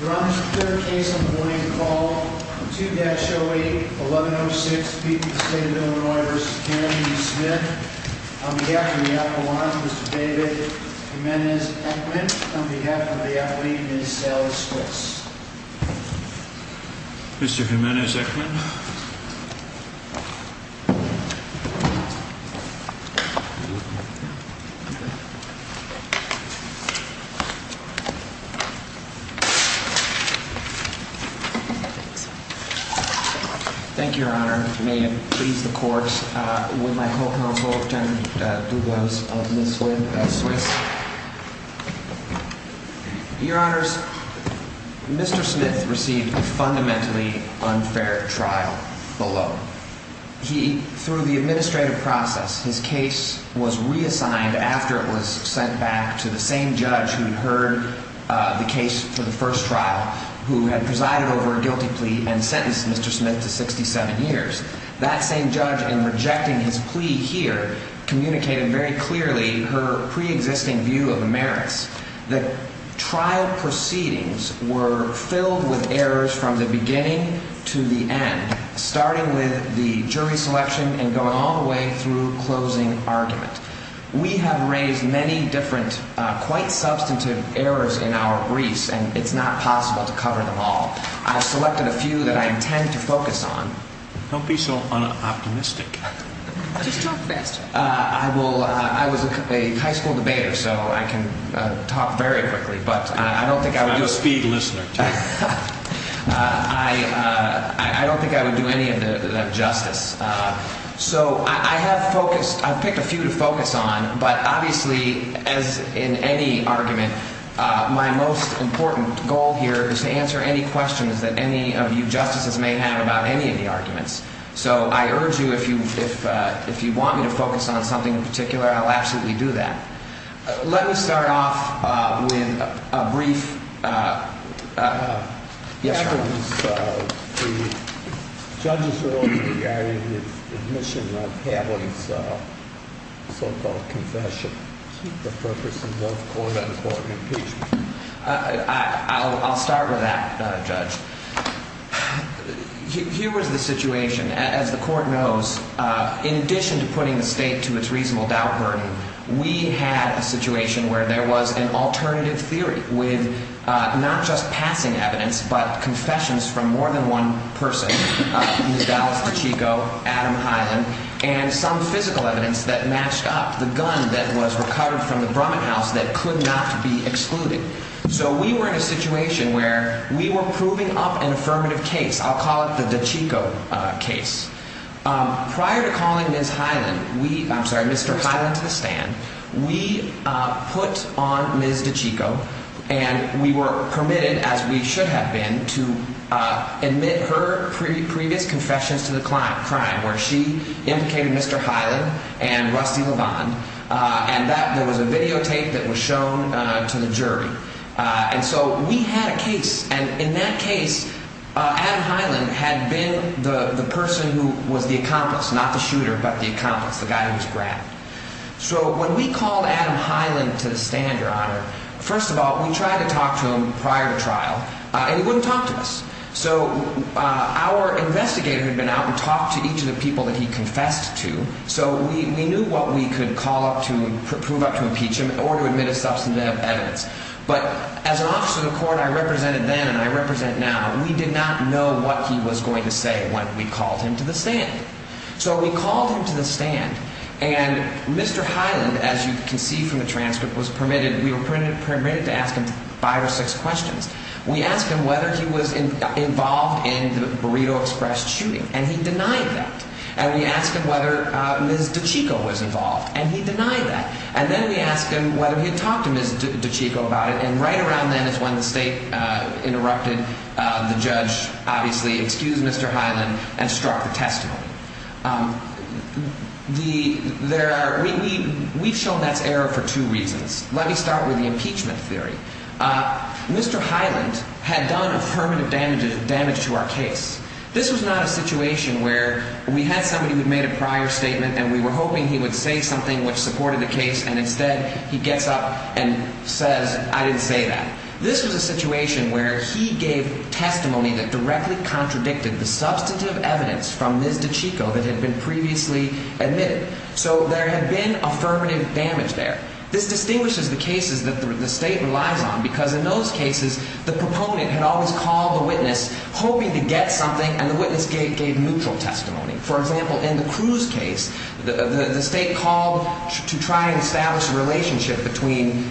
Your Honor, this is the third case on the morning call. 2-08-1106, speaking to the State of Illinois v. Kennedy v. Smith. On behalf of the appliance, Mr. David Jimenez-Eckman. On behalf of the athlete, Ms. Sally Spitz. Mr. Jimenez-Eckman. Thank you, Your Honor. May it please the courts, would my co-counsel, Lieutenant DuBose of Ms. Swiss. Your Honors, Mr. Smith received a fundamentally unfair trial below. He, through the administrative process, his case was reassigned after it was sent back to the same judge who heard the case for the first trial. Who had presided over a guilty plea and sentenced Mr. Smith to 67 years. That same judge, in rejecting his plea here, communicated very clearly her pre-existing view of the merits. The trial proceedings were filled with errors from the beginning to the end. Starting with the jury selection and going all the way through closing argument. We have raised many different, quite substantive errors in our briefs and it's not possible to cover them all. I've selected a few that I intend to focus on. Don't be so unoptimistic. Just talk faster. I was a high school debater, so I can talk very quickly. I'm a speed listener. I don't think I would do any of that justice. So I have focused, I've picked a few to focus on, but obviously, as in any argument, my most important goal here is to answer any questions that any of you justices may have about any of the arguments. So I urge you, if you want me to focus on something in particular, I'll absolutely do that. Let me start off with a brief... Yes, Your Honor. The judges are only regarding the admission of Haviland's so-called confession. The purpose of both court and court impeachment. I'll start with that, Judge. Here was the situation. As the court knows, in addition to putting the state to its reasonable doubt burden, we had a situation where there was an alternative theory with not just passing evidence, but confessions from more than one person. Ms. Dallas Pacheco, Adam Haviland, and some physical evidence that matched up. The gun that was recovered from the Brumman house that could not be excluded. So we were in a situation where we were proving up an affirmative case. I'll call it the DeChico case. Prior to calling Ms. Haviland, I'm sorry, Mr. Haviland to the stand, we put on Ms. DeChico, and we were permitted, as we should have been, to admit her previous confessions to the crime, where she implicated Mr. Haviland and Rusty LeVon. And there was a videotape that was shown to the jury. And so we had a case, and in that case, Adam Haviland had been the person who was the accomplice, not the shooter, but the accomplice, the guy who was grabbed. So when we called Adam Haviland to the stand, Your Honor, first of all, we tried to talk to him prior to trial, and he wouldn't talk to us. So our investigator had been out and talked to each of the people that he confessed to, so we knew what we could call up to prove up to impeach him or to admit a substantive evidence. But as an officer of the court I represented then and I represent now, we did not know what he was going to say when we called him to the stand. So we called him to the stand, and Mr. Haviland, as you can see from the transcript, was permitted, we were permitted to ask him five or six questions. We asked him whether he was involved in the Burrito Express shooting, and he denied that. And we asked him whether Ms. DiCicco was involved, and he denied that. And then we asked him whether he had talked to Ms. DiCicco about it, and right around then is when the state interrupted the judge, obviously, excused Mr. Haviland, and struck the testimony. We've shown that's error for two reasons. Let me start with the impeachment theory. Mr. Haviland had done affirmative damage to our case. This was not a situation where we had somebody who had made a prior statement and we were hoping he would say something which supported the case, and instead he gets up and says, I didn't say that. This was a situation where he gave testimony that directly contradicted the substantive evidence from Ms. DiCicco that had been previously admitted. So there had been affirmative damage there. This distinguishes the cases that the state relies on because in those cases, the proponent had always called the witness hoping to get something, and the witness gave neutral testimony. For example, in the Cruz case, the state called to try and establish a relationship between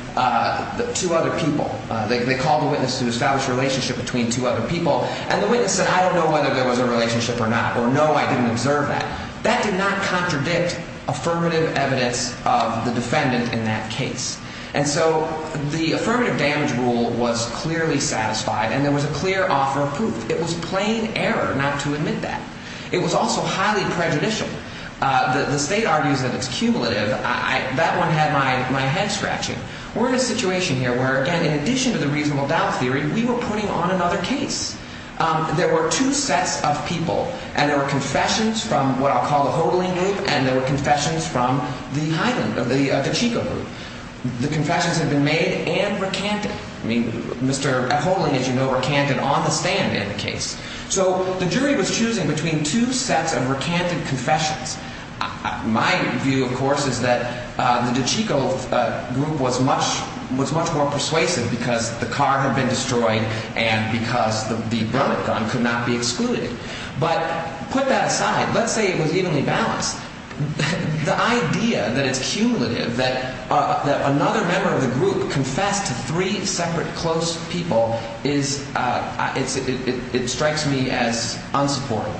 two other people. They called the witness to establish a relationship between two other people, and the witness said, I don't know whether there was a relationship or not, or no, I didn't observe that. That did not contradict affirmative evidence of the defendant in that case. And so the affirmative damage rule was clearly satisfied, and there was a clear offer of proof. It was plain error not to admit that. It was also highly prejudicial. The state argues that it's cumulative. That one had my head scratching. We're in a situation here where, again, in addition to the reasonable doubt theory, we were putting on another case. There were two sets of people, and there were confessions from what I'll call the Hodling group, and there were confessions from the DeChico group. The confessions had been made and recanted. I mean, Mr. Hodling, as you know, recanted on the stand in the case. So the jury was choosing between two sets of recanted confessions. My view, of course, is that the DeChico group was much more persuasive because the car had been destroyed and because the burn-up gun could not be excluded. But put that aside. Let's say it was evenly balanced. The idea that it's cumulative, that another member of the group confessed to three separate close people, it strikes me as unsupportive.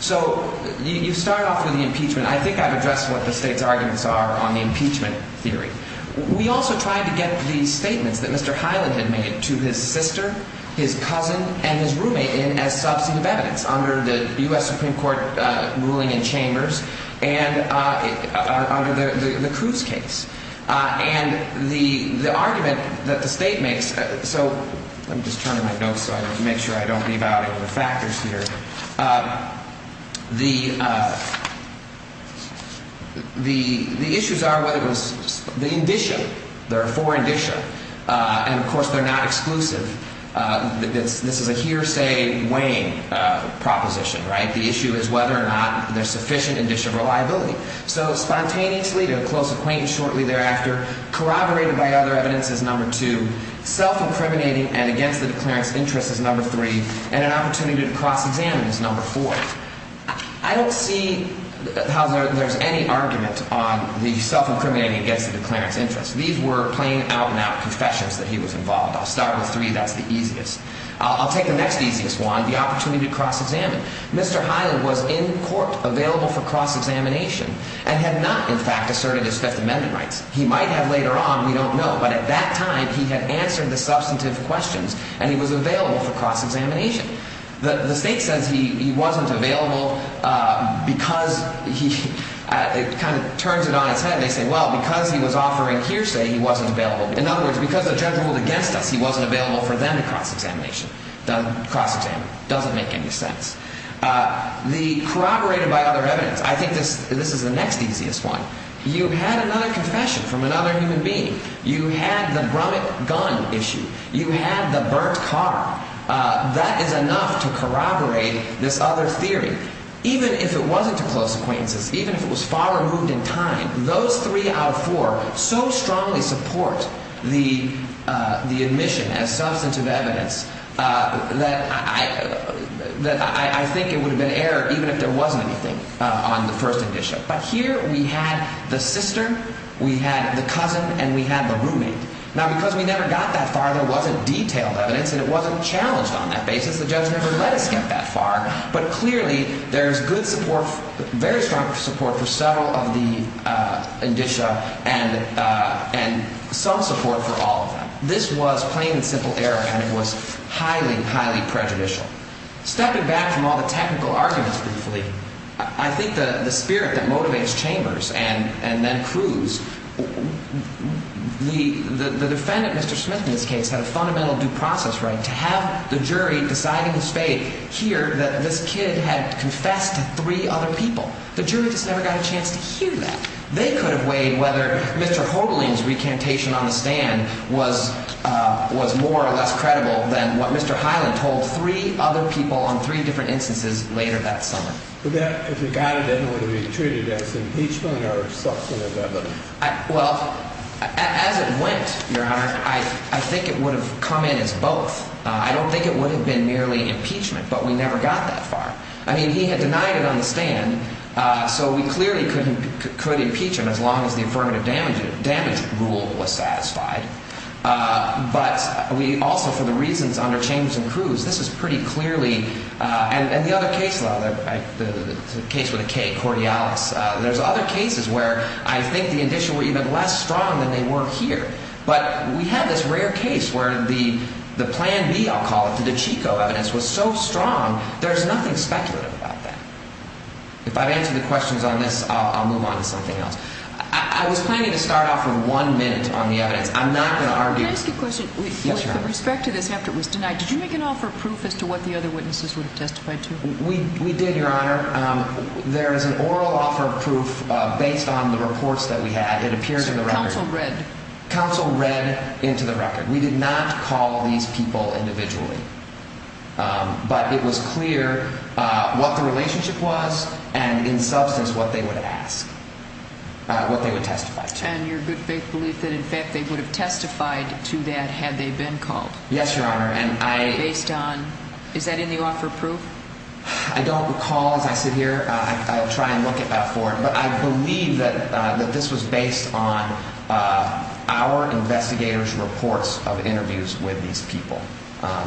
So you start off with the impeachment. I think I've addressed what the state's arguments are on the impeachment theory. We also tried to get the statements that Mr. Hyland had made to his sister, his cousin, and his roommate in as substantive evidence under the U.S. Supreme Court ruling in Chambers and under the Cruz case. And the argument that the state makes – so let me just turn in my notes so I can make sure I don't leave out any of the factors here. The issues are whether it was the indicia. There are four indicia. And, of course, they're not exclusive. This is a hearsay weighing proposition, right? The issue is whether or not there's sufficient indicia of reliability. So spontaneously, to a close acquaintance shortly thereafter, corroborated by other evidence is number two. Self-incriminating and against the declarant's interest is number three. And an opportunity to cross-examine is number four. I don't see how there's any argument on the self-incriminating against the declarant's interest. These were plain out-and-out confessions that he was involved. I'll start with three. That's the easiest. I'll take the next easiest one, the opportunity to cross-examine. Mr. Hyland was in court available for cross-examination and had not, in fact, asserted his Fifth Amendment rights. He might have later on. We don't know. But at that time, he had answered the substantive questions, and he was available for cross-examination. The state says he wasn't available because he – it kind of turns it on its head. They say, well, because he was offering hearsay, he wasn't available. In other words, because the judge ruled against us, he wasn't available for them to cross-examine. It doesn't make any sense. The corroborated by other evidence. I think this is the next easiest one. You had another confession from another human being. You had the Brummett gun issue. You had the burnt car. That is enough to corroborate this other theory. Even if it wasn't to close acquaintances, even if it was far removed in time, those three out of four so strongly support the admission as substantive evidence that I think it would have been error even if there wasn't anything on the first admission. But here we had the sister, we had the cousin, and we had the roommate. Now, because we never got that far, there wasn't detailed evidence, and it wasn't challenged on that basis. The judge never let us get that far. But clearly there is good support, very strong support for several of the indicia and some support for all of them. This was plain and simple error, and it was highly, highly prejudicial. Stepping back from all the technical arguments briefly, I think the spirit that motivates Chambers and then Cruz, the defendant, Mr. Smith, in this case, had a fundamental due process right to have the jury deciding his fate here that this kid had confessed to three other people. The jury just never got a chance to hear that. They could have weighed whether Mr. Hoagling's recantation on the stand was more or less credible than what Mr. Highland told three other people on three different instances later that summer. But that, if it got it, then it would have been treated as impeachment or substantive evidence? Well, as it went, Your Honor, I think it would have come in as both. I don't think it would have been merely impeachment, but we never got that far. I mean, he had denied it on the stand, so we clearly could impeach him as long as the affirmative damage rule was satisfied. But we also, for the reasons under Chambers and Cruz, this was pretty clearly – and the other case, the case with the K, Cordialis, there's other cases where I think the indicia were even less strong than they were here. But we had this rare case where the Plan B, I'll call it, the DiCicco evidence was so strong, there's nothing speculative about that. If I've answered the questions on this, I'll move on to something else. I was planning to start off with one minute on the evidence. I'm not going to argue. Can I ask you a question? Yes, Your Honor. With respect to this after it was denied, did you make an offer of proof as to what the other witnesses would have testified to? We did, Your Honor. There is an oral offer of proof based on the reports that we had. It appears in the record. Counsel read? Counsel read into the record. We did not call these people individually. But it was clear what the relationship was and, in substance, what they would ask, what they would testify to. And your good faith belief that, in fact, they would have testified to that had they been called? Yes, Your Honor. Based on – is that in the offer of proof? I don't recall. As I sit here, I try and look it up for it. But I believe that this was based on our investigators' reports of interviews with these people.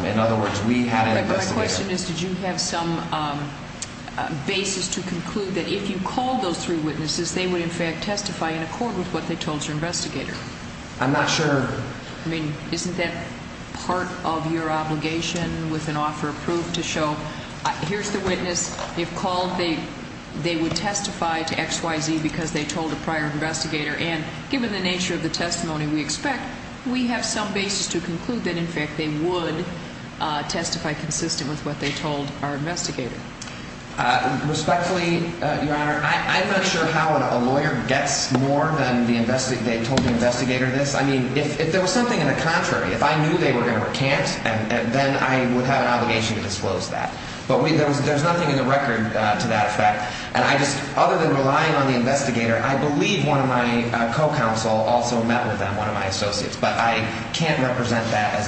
In other words, we had an investigator. My question is, did you have some basis to conclude that if you called those three witnesses, they would, in fact, testify in accord with what they told your investigator? I'm not sure. I mean, isn't that part of your obligation with an offer of proof to show, here's the witness. You've called. They would testify to X, Y, Z because they told a prior investigator. And given the nature of the testimony we expect, we have some basis to conclude that, in fact, they would testify consistent with what they told our investigator. Respectfully, Your Honor, I'm not sure how a lawyer gets more than they told the investigator this. I mean, if there was something in the contrary, if I knew they were going to recant, then I would have an obligation to disclose that. But there's nothing in the record to that effect. And I just – other than relying on the investigator, I believe one of my co-counsel also met with them, one of my associates. But I can't represent that as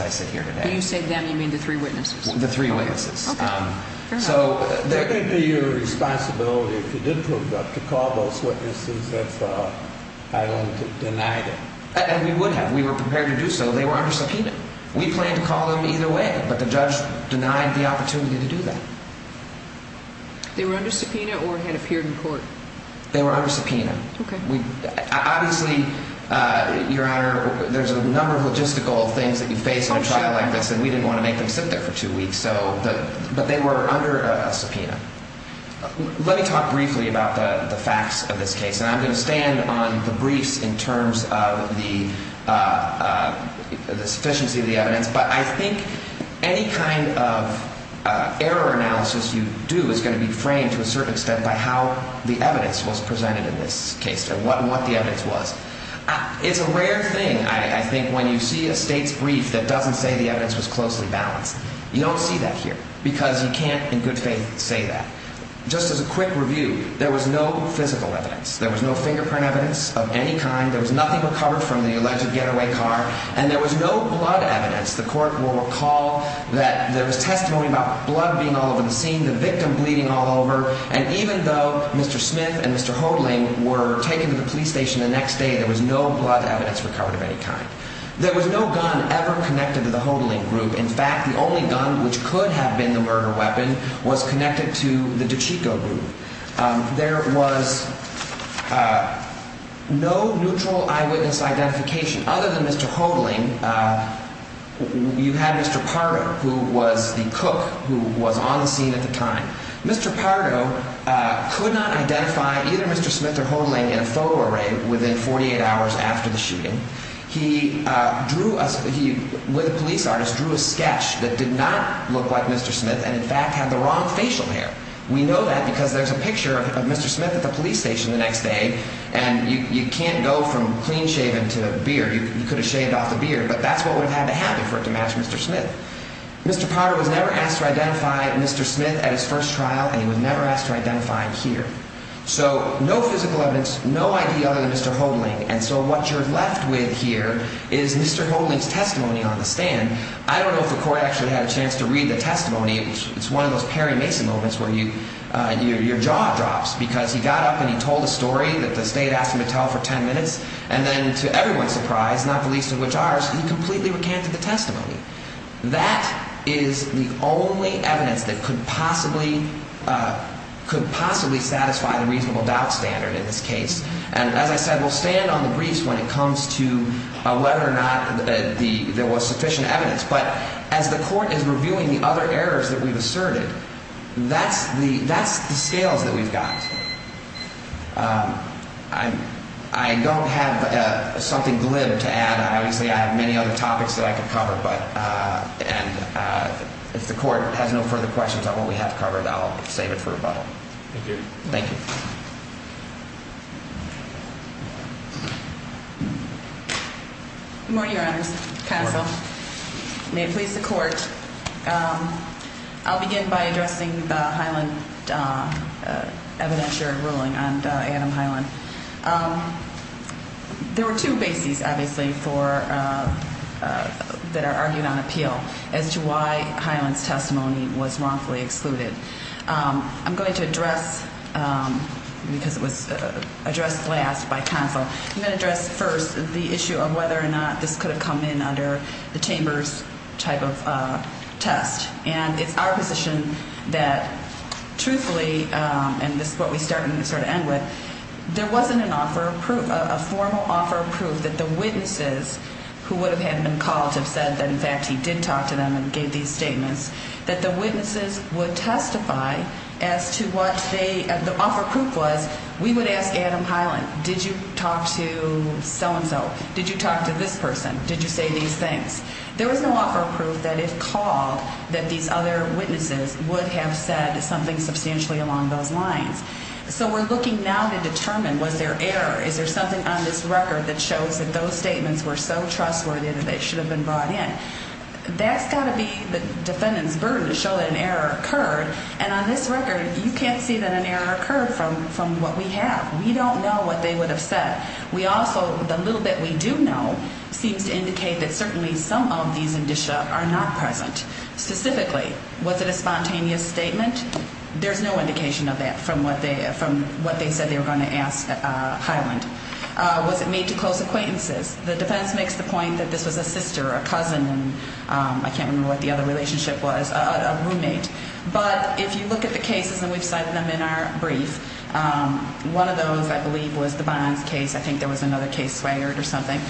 I sit here today. When you say them, you mean the three witnesses? The three witnesses. Okay. Fair enough. It would be your responsibility if you did prove that to call those witnesses if I wanted to deny them. And we would have. We were prepared to do so. They were under subpoena. We planned to call them either way, but the judge denied the opportunity to do that. They were under subpoena or had appeared in court? They were under subpoena. Okay. Obviously, Your Honor, there's a number of logistical things that you face in a trial like this, and we didn't want to make them sit there for two weeks. But they were under subpoena. Let me talk briefly about the facts of this case, and I'm going to stand on the briefs in terms of the sufficiency of the evidence. But I think any kind of error analysis you do is going to be framed to a certain extent by how the evidence was presented in this case and what the evidence was. It's a rare thing, I think, when you see a state's brief that doesn't say the evidence was closely balanced. You don't see that here because you can't, in good faith, say that. Just as a quick review, there was no physical evidence. There was no fingerprint evidence of any kind. There was nothing recovered from the alleged getaway car, and there was no blood evidence. The court will recall that there was testimony about blood being all over the scene, the victim bleeding all over. And even though Mr. Smith and Mr. Hodling were taken to the police station the next day, there was no blood evidence recovered of any kind. There was no gun ever connected to the Hodling group. In fact, the only gun which could have been the murder weapon was connected to the DiCicco group. There was no neutral eyewitness identification other than Mr. Hodling. You had Mr. Pardo, who was the cook who was on the scene at the time. Mr. Pardo could not identify either Mr. Smith or Hodling in a photo array within 48 hours after the shooting. He, with a police artist, drew a sketch that did not look like Mr. Smith and, in fact, had the wrong facial hair. We know that because there's a picture of Mr. Smith at the police station the next day, and you can't go from clean-shaven to beard. You could have shaved off the beard, but that's what would have had to happen for it to match Mr. Smith. Mr. Pardo was never asked to identify Mr. Smith at his first trial, and he was never asked to identify him here. So no physical evidence, no ID other than Mr. Hodling. And so what you're left with here is Mr. Hodling's testimony on the stand. I don't know if the court actually had a chance to read the testimony. It's one of those Perry Mason moments where your jaw drops because he got up and he told a story that the state asked him to tell for 10 minutes. And then, to everyone's surprise, not the least of which ours, he completely recanted the testimony. That is the only evidence that could possibly satisfy the reasonable doubt standard in this case. And as I said, we'll stand on the briefs when it comes to whether or not there was sufficient evidence. But as the court is reviewing the other errors that we've asserted, that's the scales that we've got. I don't have something glib to add. Obviously, I have many other topics that I could cover, but if the court has no further questions on what we have covered, I'll save it for rebuttal. Thank you. Thank you. Good morning, Your Honors. Counsel. Good morning. May it please the court. I'll begin by addressing the Highland evidentiary ruling on Adam Highland. There were two bases, obviously, that are argued on appeal as to why Highland's testimony was wrongfully excluded. I'm going to address, because it was addressed last by counsel, I'm going to address first the issue of whether or not this could have come in under the Chamber's type of test. And it's our position that, truthfully, and this is what we start and sort of end with, there wasn't an offer of proof, a formal offer of proof that the witnesses who would have had him called have said that, in fact, he did talk to them and gave these statements, that the witnesses would testify as to what the offer of proof was. We would ask Adam Highland, did you talk to so-and-so? Did you talk to this person? Did you say these things? There was no offer of proof that, if called, that these other witnesses would have said something substantially along those lines. So we're looking now to determine, was there error? Is there something on this record that shows that those statements were so trustworthy that they should have been brought in? That's got to be the defendant's burden to show that an error occurred. And on this record, you can't see that an error occurred from what we have. We don't know what they would have said. We also, the little bit we do know seems to indicate that certainly some of these indicia are not present. Specifically, was it a spontaneous statement? There's no indication of that from what they said they were going to ask Highland. Was it made to close acquaintances? The defense makes the point that this was a sister, a cousin, and I can't remember what the other relationship was, a roommate. But if you look at the cases, and we've cited them in our brief, one of those, I believe, was the Bonds case. I think there was another case, Swaggart or something.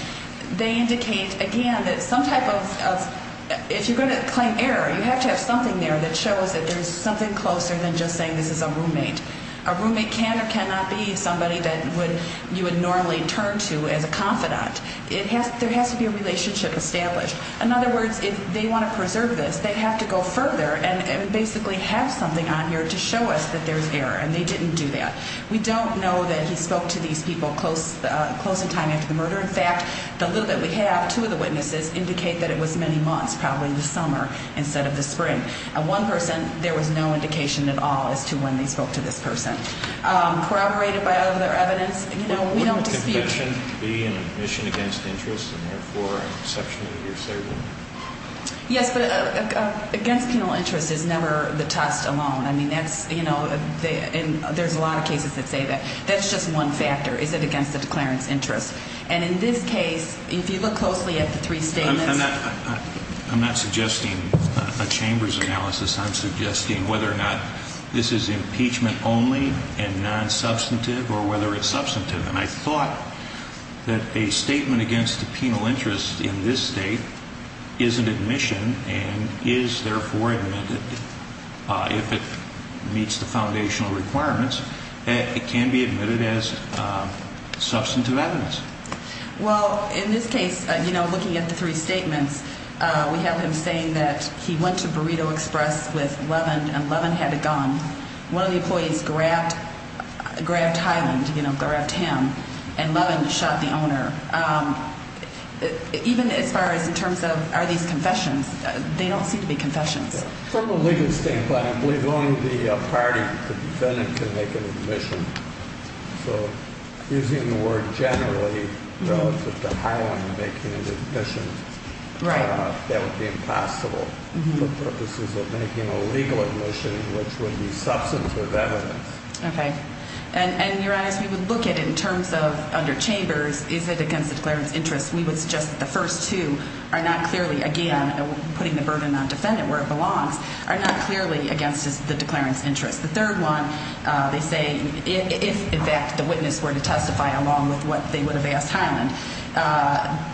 They indicate, again, that some type of, if you're going to claim error, you have to have something there that shows that there's something closer than just saying this is a roommate. A roommate can or cannot be somebody that you would normally turn to as a confidant. There has to be a relationship established. In other words, if they want to preserve this, they have to go further and basically have something on here to show us that there's error, and they didn't do that. We don't know that he spoke to these people close in time after the murder. In fact, the little bit we have, two of the witnesses indicate that it was many months, probably the summer instead of the spring. Of one person, there was no indication at all as to when they spoke to this person. Corroborated by other evidence, you know, we don't dispute. Wouldn't a confession be an admission against interest and therefore an exception to your savings? Yes, but against penal interest is never the test alone. I mean, that's, you know, and there's a lot of cases that say that. That's just one factor, is it against the declarant's interest. And in this case, if you look closely at the three statements. I'm not suggesting a chamber's analysis. I'm suggesting whether or not this is impeachment only and non-substantive or whether it's substantive. And I thought that a statement against the penal interest in this state is an admission and is therefore admitted. If it meets the foundational requirements, it can be admitted as substantive evidence. Well, in this case, you know, looking at the three statements, we have him saying that he went to Burrito Express with Levin and Levin had a gun. One of the employees grabbed, grabbed Hyland, you know, grabbed him and Levin shot the owner. Even as far as in terms of are these confessions, they don't seem to be confessions. From a legal standpoint, I believe only the party, the defendant can make an admission. So using the word generally relative to Hyland making an admission. Right. That would be impossible for purposes of making a legal admission, which would be substantive evidence. OK. And you're right. We would look at it in terms of under chambers. Is it against the declarant's interest? We would suggest that the first two are not clearly, again, putting the burden on defendant where it belongs, are not clearly against the declarant's interest. The third one, they say, if in fact the witness were to testify along with what they would have asked Hyland,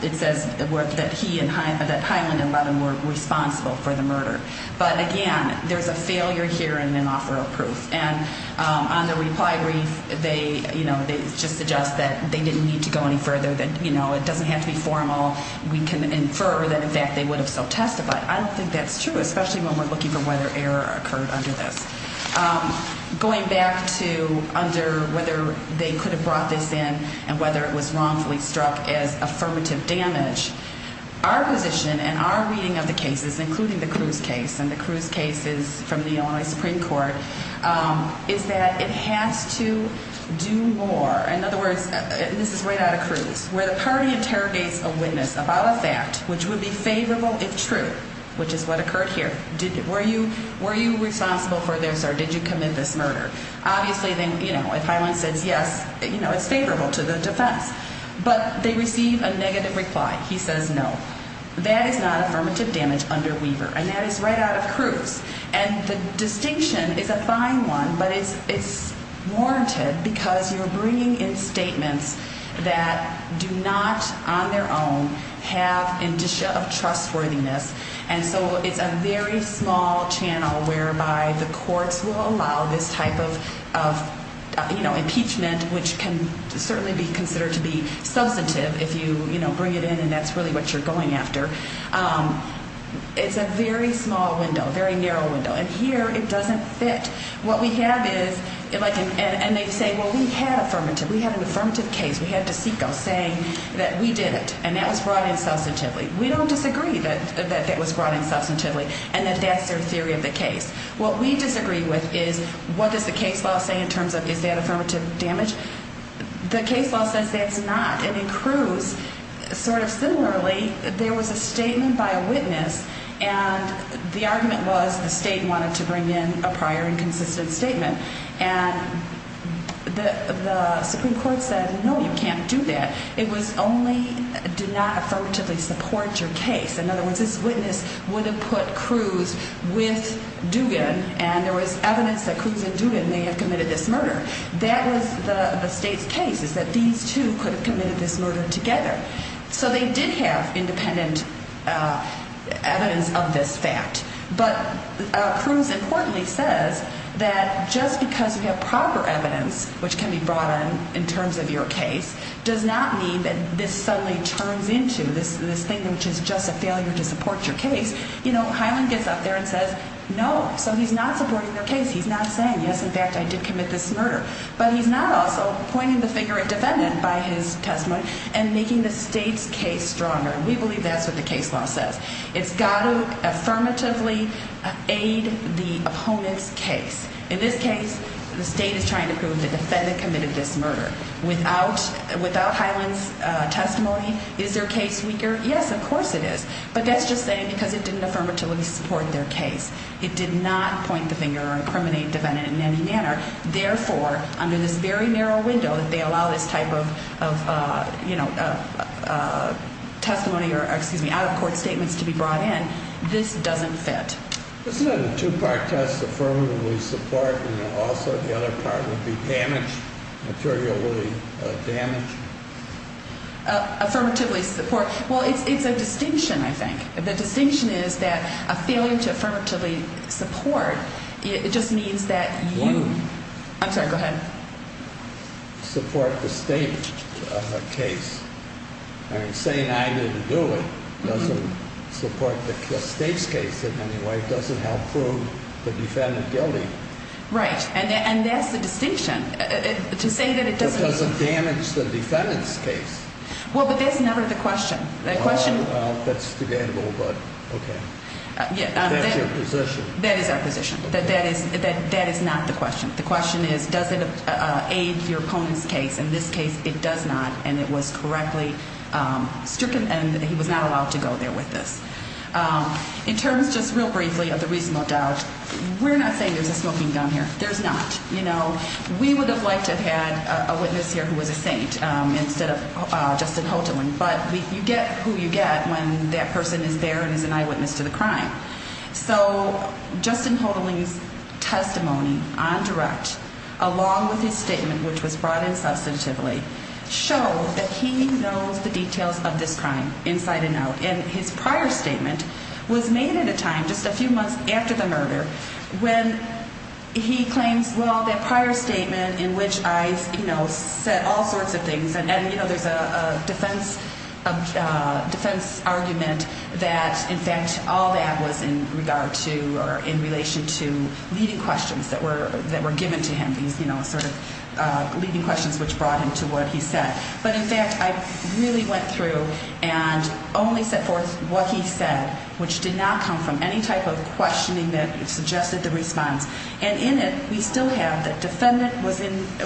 it says that he and Hyland, that Hyland and Levin were responsible for the murder. But again, there's a failure here and an offer of proof. And on the reply brief, they just suggest that they didn't need to go any further, that it doesn't have to be formal. We can infer that in fact they would have so testified. I don't think that's true, especially when we're looking for whether error occurred under this. Going back to under whether they could have brought this in and whether it was wrongfully struck as affirmative damage. Our position and our reading of the cases, including the Cruz case and the Cruz cases from the Illinois Supreme Court, is that it has to do more. In other words, this is right out of Cruz, where the party interrogates a witness about a fact which would be favorable if true, which is what occurred here. Were you responsible for this or did you commit this murder? Obviously, then, you know, if Hyland says yes, you know, it's favorable to the defense. But they receive a negative reply. He says no, that is not affirmative damage under Weaver. And that is right out of Cruz. And the distinction is a fine one, but it's warranted because you're bringing in statements that do not on their own have indicia of trustworthiness. And so it's a very small channel whereby the courts will allow this type of, you know, impeachment, which can certainly be considered to be substantive if you, you know, bring it in and that's really what you're going after. It's a very small window, very narrow window. And here it doesn't fit. What we have is, and they say, well, we had affirmative. We had an affirmative case. We had DeCicco saying that we did it. And that was brought in substantively. We don't disagree that that was brought in substantively and that that's their theory of the case. What we disagree with is what does the case law say in terms of is that affirmative damage? The case law says that's not. And in Cruz, sort of similarly, there was a statement by a witness and the argument was the state wanted to bring in a prior and consistent statement. And the Supreme Court said, no, you can't do that. It was only do not affirmatively support your case. In other words, this witness would have put Cruz with Dugan and there was evidence that Cruz and Dugan may have committed this murder. That was the state's case is that these two could have committed this murder together. So they did have independent evidence of this fact. But Cruz importantly says that just because we have proper evidence, which can be brought in in terms of your case, does not mean that this suddenly turns into this thing, which is just a failure to support your case. You know, Highland gets up there and says, no, so he's not supporting their case. He's not saying, yes, in fact, I did commit this murder. But he's not also pointing the finger at defendant by his testimony and making the state's case stronger. We believe that's what the case law says. It's got to affirmatively aid the opponent's case. In this case, the state is trying to prove the defendant committed this murder. Without Highland's testimony, is their case weaker? Yes, of course it is. But that's just saying because it didn't affirmatively support their case. It did not point the finger or incriminate defendant in any manner. Therefore, under this very narrow window that they allow this type of testimony or out-of-court statements to be brought in, this doesn't fit. Isn't it a two-part test, affirmatively support, and also the other part would be damaged, materially damaged? Affirmatively support. Well, it's a distinction, I think. The distinction is that a failure to affirmatively support, it just means that you— I'm sorry, go ahead. Support the state's case. Saying I didn't do it doesn't support the state's case in any way. It doesn't help prove the defendant guilty. Right, and that's the distinction. To say that it doesn't— It doesn't damage the defendant's case. Well, but that's never the question. That's the gamble, but okay. That's your position. That is our position. That is not the question. The question is, does it aid your opponent's case? In this case, it does not, and it was correctly stricken, and he was not allowed to go there with this. In terms, just real briefly, of the reasonable doubt, we're not saying there's a smoking gun here. There's not. We would have liked to have had a witness here who was a saint instead of Justin Houghton. But you get who you get when that person is there and is an eyewitness to the crime. So Justin Houghton's testimony on direct, along with his statement, which was brought in substantively, show that he knows the details of this crime inside and out. And his prior statement was made at a time, just a few months after the murder, when he claims, well, that prior statement in which I said all sorts of things, and, you know, there's a defense argument that, in fact, all that was in regard to or in relation to leading questions that were given to him, these sort of leading questions which brought him to what he said. But, in fact, I really went through and only set forth what he said, which did not come from any type of questioning that suggested the response. And in it, we still have the defendant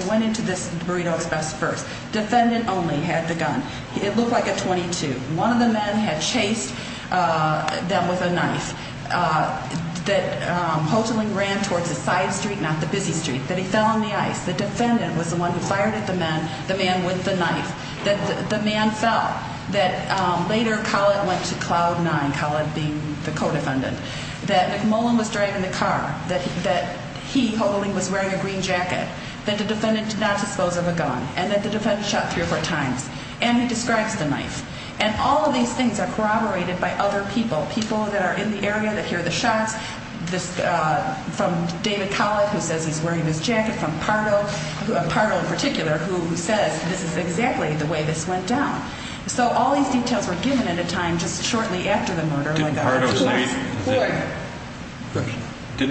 went into this burrito express first. Defendant only had the gun. It looked like a .22. One of the men had chased them with a knife. That Houghton ran towards the side street, not the busy street. That he fell on the ice. The defendant was the one who fired at the man with the knife. That the man fell. That later Collett went to cloud nine, Collett being the co-defendant. That McMullen was driving the car. That he, Houghton, was wearing a green jacket. That the defendant did not dispose of a gun. And that the defendant shot three or four times. And he describes the knife. And all of these things are corroborated by other people. People that are in the area that hear the shots. From David Collett, who says he's wearing this jacket. From Pardo, Pardo in particular, who says this is exactly the way this went down. So all these details were given at a time just shortly after the murder. Didn't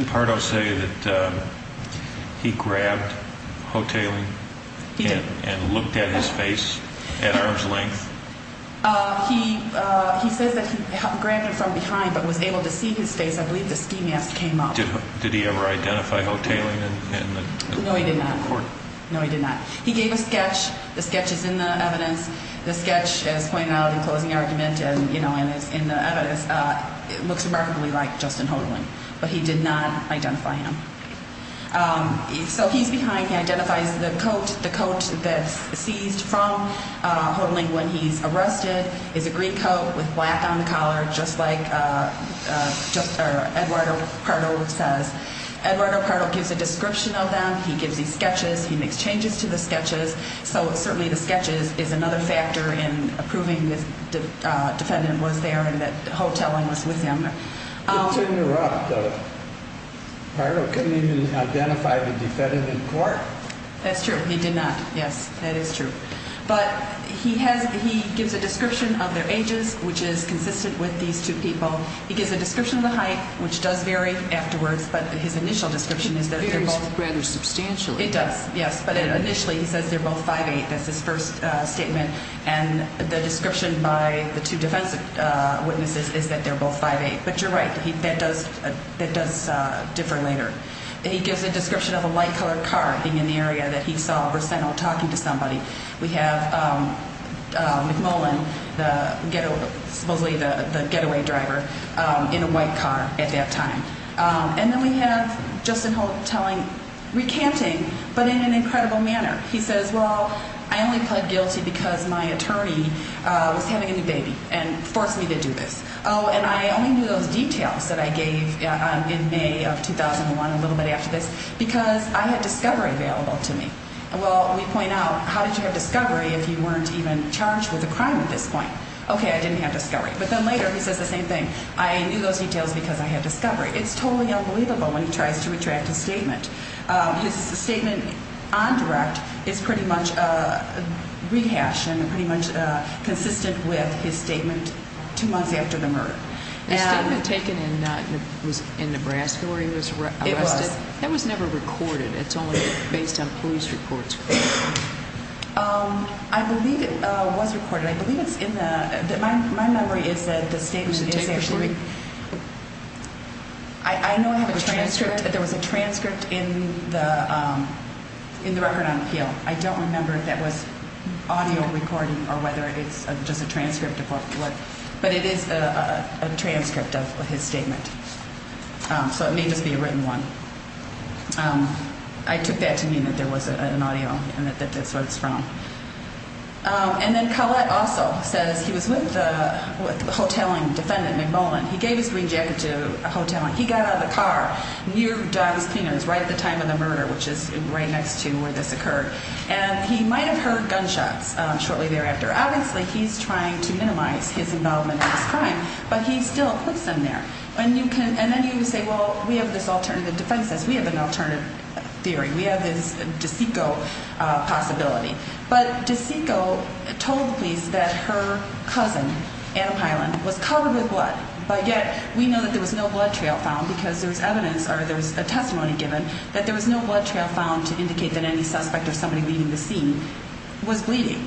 Pardo say that he grabbed Houghtaling. He did. And looked at his face at arm's length. He says that he grabbed him from behind but was able to see his face. I believe the ski mask came off. Did he ever identify Houghtaling in the court? No, he did not. No, he did not. He gave a sketch. The sketch is in the evidence. The sketch is pointed out in the closing argument and, you know, in the evidence. It looks remarkably like Justin Houghtaling. But he did not identify him. So he's behind. He identifies the coat. The coat that's seized from Houghtaling when he's arrested is a green coat with black on the collar. Just like Eduardo Pardo says. Eduardo Pardo gives a description of them. He gives these sketches. He makes changes to the sketches. So certainly the sketches is another factor in approving the defendant was there and that Houghtaling was with him. It's interrupted. Pardo couldn't even identify the defendant in court. That's true. He did not. Yes, that is true. But he gives a description of their ages, which is consistent with these two people. He gives a description of the height, which does vary afterwards. But his initial description is that they're both. It varies rather substantially. It does, yes. But initially he says they're both 5'8". That's his first statement. And the description by the two defense witnesses is that they're both 5'8". But you're right. That does differ later. He gives a description of a light-colored car being in the area that he saw Brissento talking to somebody. We have McMullen, supposedly the getaway driver, in a white car at that time. And then we have Justin Houghtaling recanting, but in an incredible manner. He says, well, I only pled guilty because my attorney was having a new baby and forced me to do this. Oh, and I only knew those details that I gave in May of 2001, a little bit after this, because I had discovery available to me. Well, we point out, how did you have discovery if you weren't even charged with a crime at this point? Okay, I didn't have discovery. But then later he says the same thing. I knew those details because I had discovery. It's totally unbelievable when he tries to retract his statement. His statement on direct is pretty much rehashed and pretty much consistent with his statement two months after the murder. The statement taken in Nebraska where he was arrested? It was. That was never recorded. It's only based on police reports. I believe it was recorded. My memory is that the statement is actually, I know I have a transcript. There was a transcript in the record on appeal. I don't remember if that was audio recording or whether it's just a transcript. But it is a transcript of his statement. So it may just be a written one. I took that to mean that there was an audio and that that's where it's from. And then Collette also says he was with the hoteling defendant, McMullen. He gave his green jacket to a hotel. He got out of the car near Donnie's Cleaners right at the time of the murder, which is right next to where this occurred. And he might have heard gunshots shortly thereafter. Obviously, he's trying to minimize his involvement in this crime, but he still puts them there. And then you say, well, we have this alternative defense. We have an alternative theory. We have this DeCicco possibility. But DeCicco told the police that her cousin, Adam Highland, was covered with blood. But yet we know that there was no blood trail found because there was evidence or there was a testimony given that there was no blood trail found to indicate that any suspect or somebody leaving the scene was bleeding.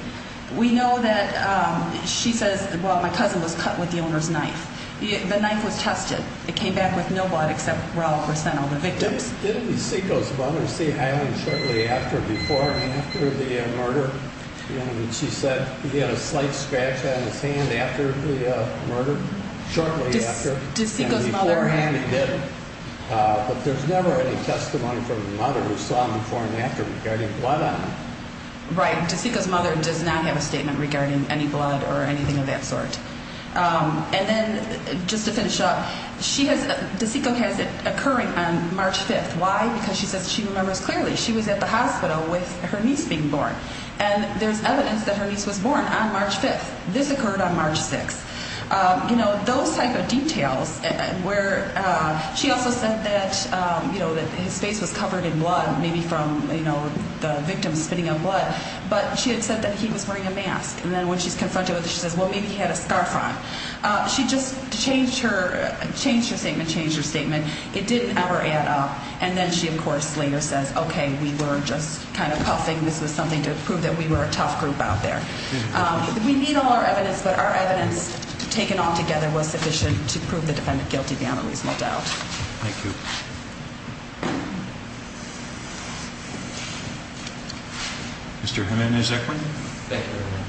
We know that she says, well, my cousin was cut with the owner's knife. The knife was tested. It came back with no blood except raw percent of the victims. Didn't DeCicco's mother see Highland shortly after, before and after the murder? She said he had a slight scratch on his hand after the murder, shortly after. DeCicco's mother. And beforehand he didn't. But there's never any testimony from the mother who saw him before and after regarding blood on him. Right. DeCicco's mother does not have a statement regarding any blood or anything of that sort. And then just to finish up, she has DeCicco has it occurring on March 5th. Why? Because she says she remembers clearly she was at the hospital with her niece being born. And there's evidence that her niece was born on March 5th. This occurred on March 6th. You know, those type of details where she also said that, you know, that his face was covered in blood, maybe from, you know, the victims spitting up blood. But she had said that he was wearing a mask. And then when she's confronted with it, she says, well, maybe he had a scarf on. She just changed her statement, changed her statement. It didn't ever add up. And then she, of course, later says, OK, we were just kind of huffing. This was something to prove that we were a tough group out there. We need all our evidence. But our evidence taken all together was sufficient to prove the defendant guilty beyond a reasonable doubt. Thank you. Thank you. Thank you. Thank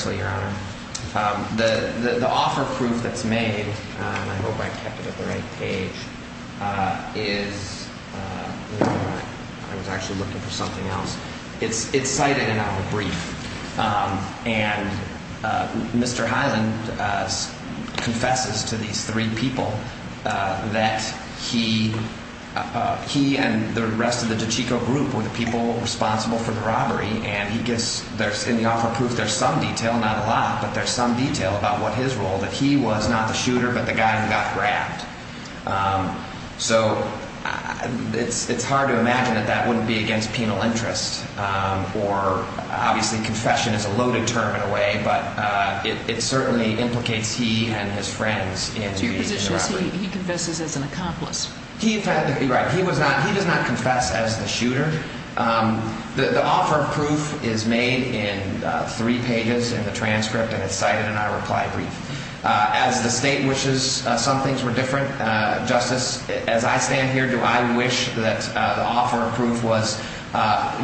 you. Mr. I was actually looking for something else. It's cited in our brief. And Mr. Highland confesses to these three people that he he and the rest of the group were the people responsible for the robbery. And he gets there in the offer of proof. There's some detail, not a lot. But there's some detail about what his role that he was not the shooter, but the guy who got grabbed. So it's hard to imagine that that wouldn't be against penal interest or obviously confession is a loaded term in a way. But it certainly implicates he and his friends in two positions. He confesses as an accomplice. He had to be right. He was not he does not confess as the shooter. The offer of proof is made in three pages in the transcript. And it's cited in our reply brief as the state, which is some things were different. Justice, as I stand here, do I wish that the offer of proof was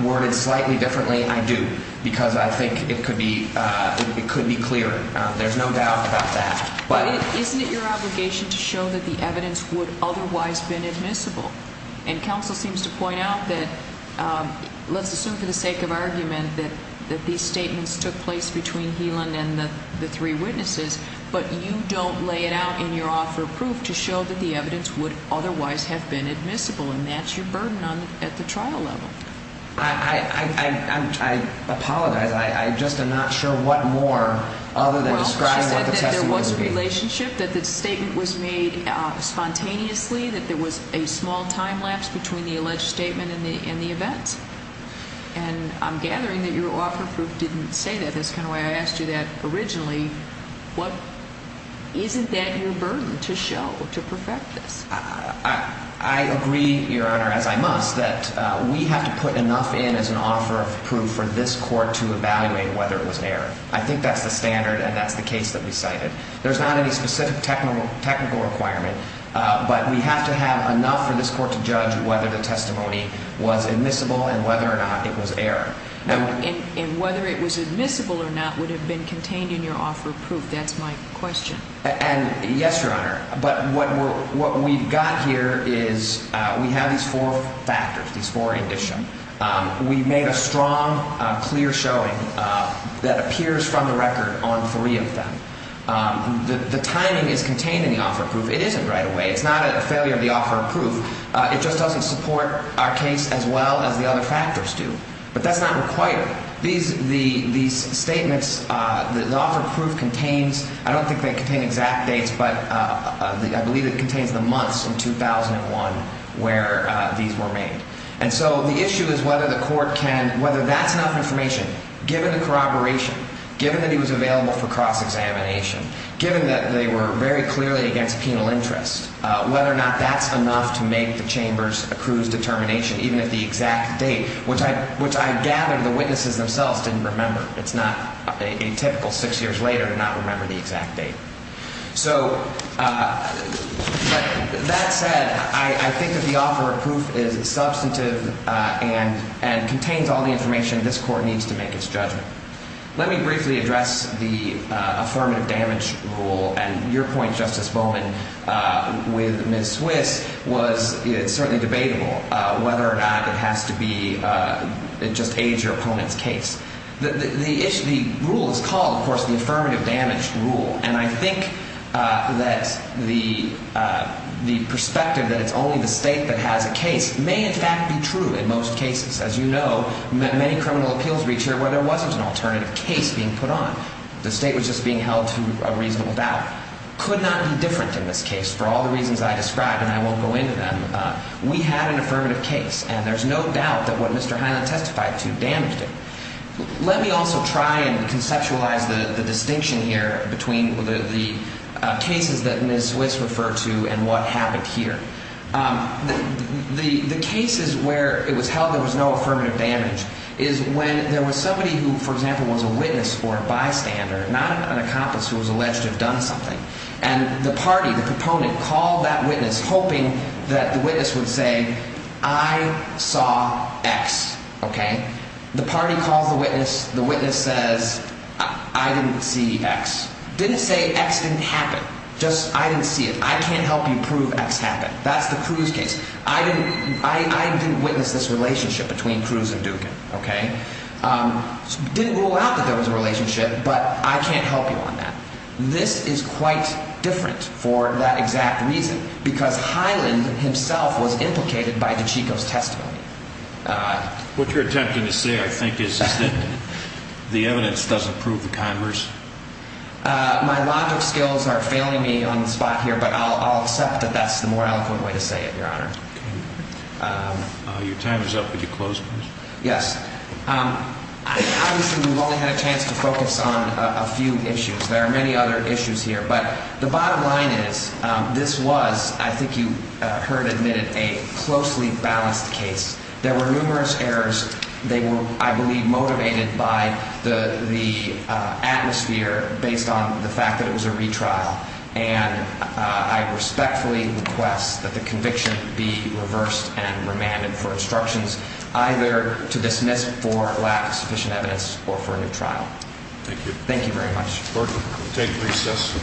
worded slightly differently? I do, because I think it could be it could be clear. There's no doubt about that. But isn't it your obligation to show that the evidence would otherwise been admissible? And counsel seems to point out that. Let's assume for the sake of argument that that these statements took place between healing and the three witnesses. But you don't lay it out in your offer of proof to show that the evidence would otherwise have been admissible. And that's your burden on at the trial level. I apologize. I just am not sure what more other than the relationship that the statement was made spontaneously. That there was a small time lapse between the alleged statement and the events. And I'm gathering that your offer of proof didn't say that. That's kind of why I asked you that originally. What isn't that your burden to show to perfect this? I agree, Your Honor, as I must, that we have to put enough in as an offer of proof for this court to evaluate whether it was an error. I think that's the standard. And that's the case that we cited. There's not any specific technical requirement. But we have to have enough for this court to judge whether the testimony was admissible and whether or not it was error. And whether it was admissible or not would have been contained in your offer of proof. That's my question. And yes, Your Honor. But what we've got here is we have these four factors, these four in this show. We made a strong, clear showing that appears from the record on three of them. The timing is contained in the offer of proof. It isn't right away. It's not a failure of the offer of proof. It just doesn't support our case as well as the other factors do. But that's not required. These statements, the offer of proof contains – I don't think they contain exact dates, but I believe it contains the months in 2001 where these were made. And so the issue is whether the court can – whether that's enough information, given the corroboration, given that he was available for cross-examination, given that they were very clearly against penal interest, whether or not that's enough to make the Chamber's accrued determination, even if the exact date, which I gather the witnesses themselves didn't remember. It's not atypical six years later to not remember the exact date. So that said, I think that the offer of proof is substantive and contains all the information this court needs to make its judgment. Let me briefly address the affirmative damage rule. And your point, Justice Bowman, with Ms. Swiss, was it's certainly debatable whether or not it has to be – it just aids your opponent's case. The issue – the rule is called, of course, the affirmative damage rule. And I think that the perspective that it's only the State that has a case may in fact be true in most cases. As you know, many criminal appeals reach here where there wasn't an alternative case being put on. The State was just being held to a reasonable doubt. Could not be different in this case for all the reasons I described, and I won't go into them. We had an affirmative case, and there's no doubt that what Mr. Highland testified to damaged it. Let me also try and conceptualize the distinction here between the cases that Ms. Swiss referred to and what happened here. The cases where it was held there was no affirmative damage is when there was somebody who, for example, was a witness or a bystander, not an accomplice who was alleged to have done something. And the party, the proponent, called that witness hoping that the witness would say, I saw X. The party calls the witness. The witness says, I didn't see X. Didn't say X didn't happen. Just I didn't see it. I can't help you prove X happened. That's the Cruz case. I didn't witness this relationship between Cruz and Dugan. Didn't rule out that there was a relationship, but I can't help you on that. This is quite different for that exact reason, because Highland himself was implicated by DiCicco's testimony. What you're attempting to say, I think, is that the evidence doesn't prove the converse. My logic skills are failing me on the spot here, but I'll accept that that's the more eloquent way to say it, Your Honor. Your time is up. Would you close, please? Yes. Obviously, we've only had a chance to focus on a few issues. There are many other issues here. But the bottom line is, this was, I think you heard admitted, a closely balanced case. There were numerous errors. They were, I believe, motivated by the atmosphere based on the fact that it was a retrial. And I respectfully request that the conviction be reversed and remanded for instructions, either to dismiss for lack of sufficient evidence or for a new trial. Thank you. Thank you very much. Court, take recess.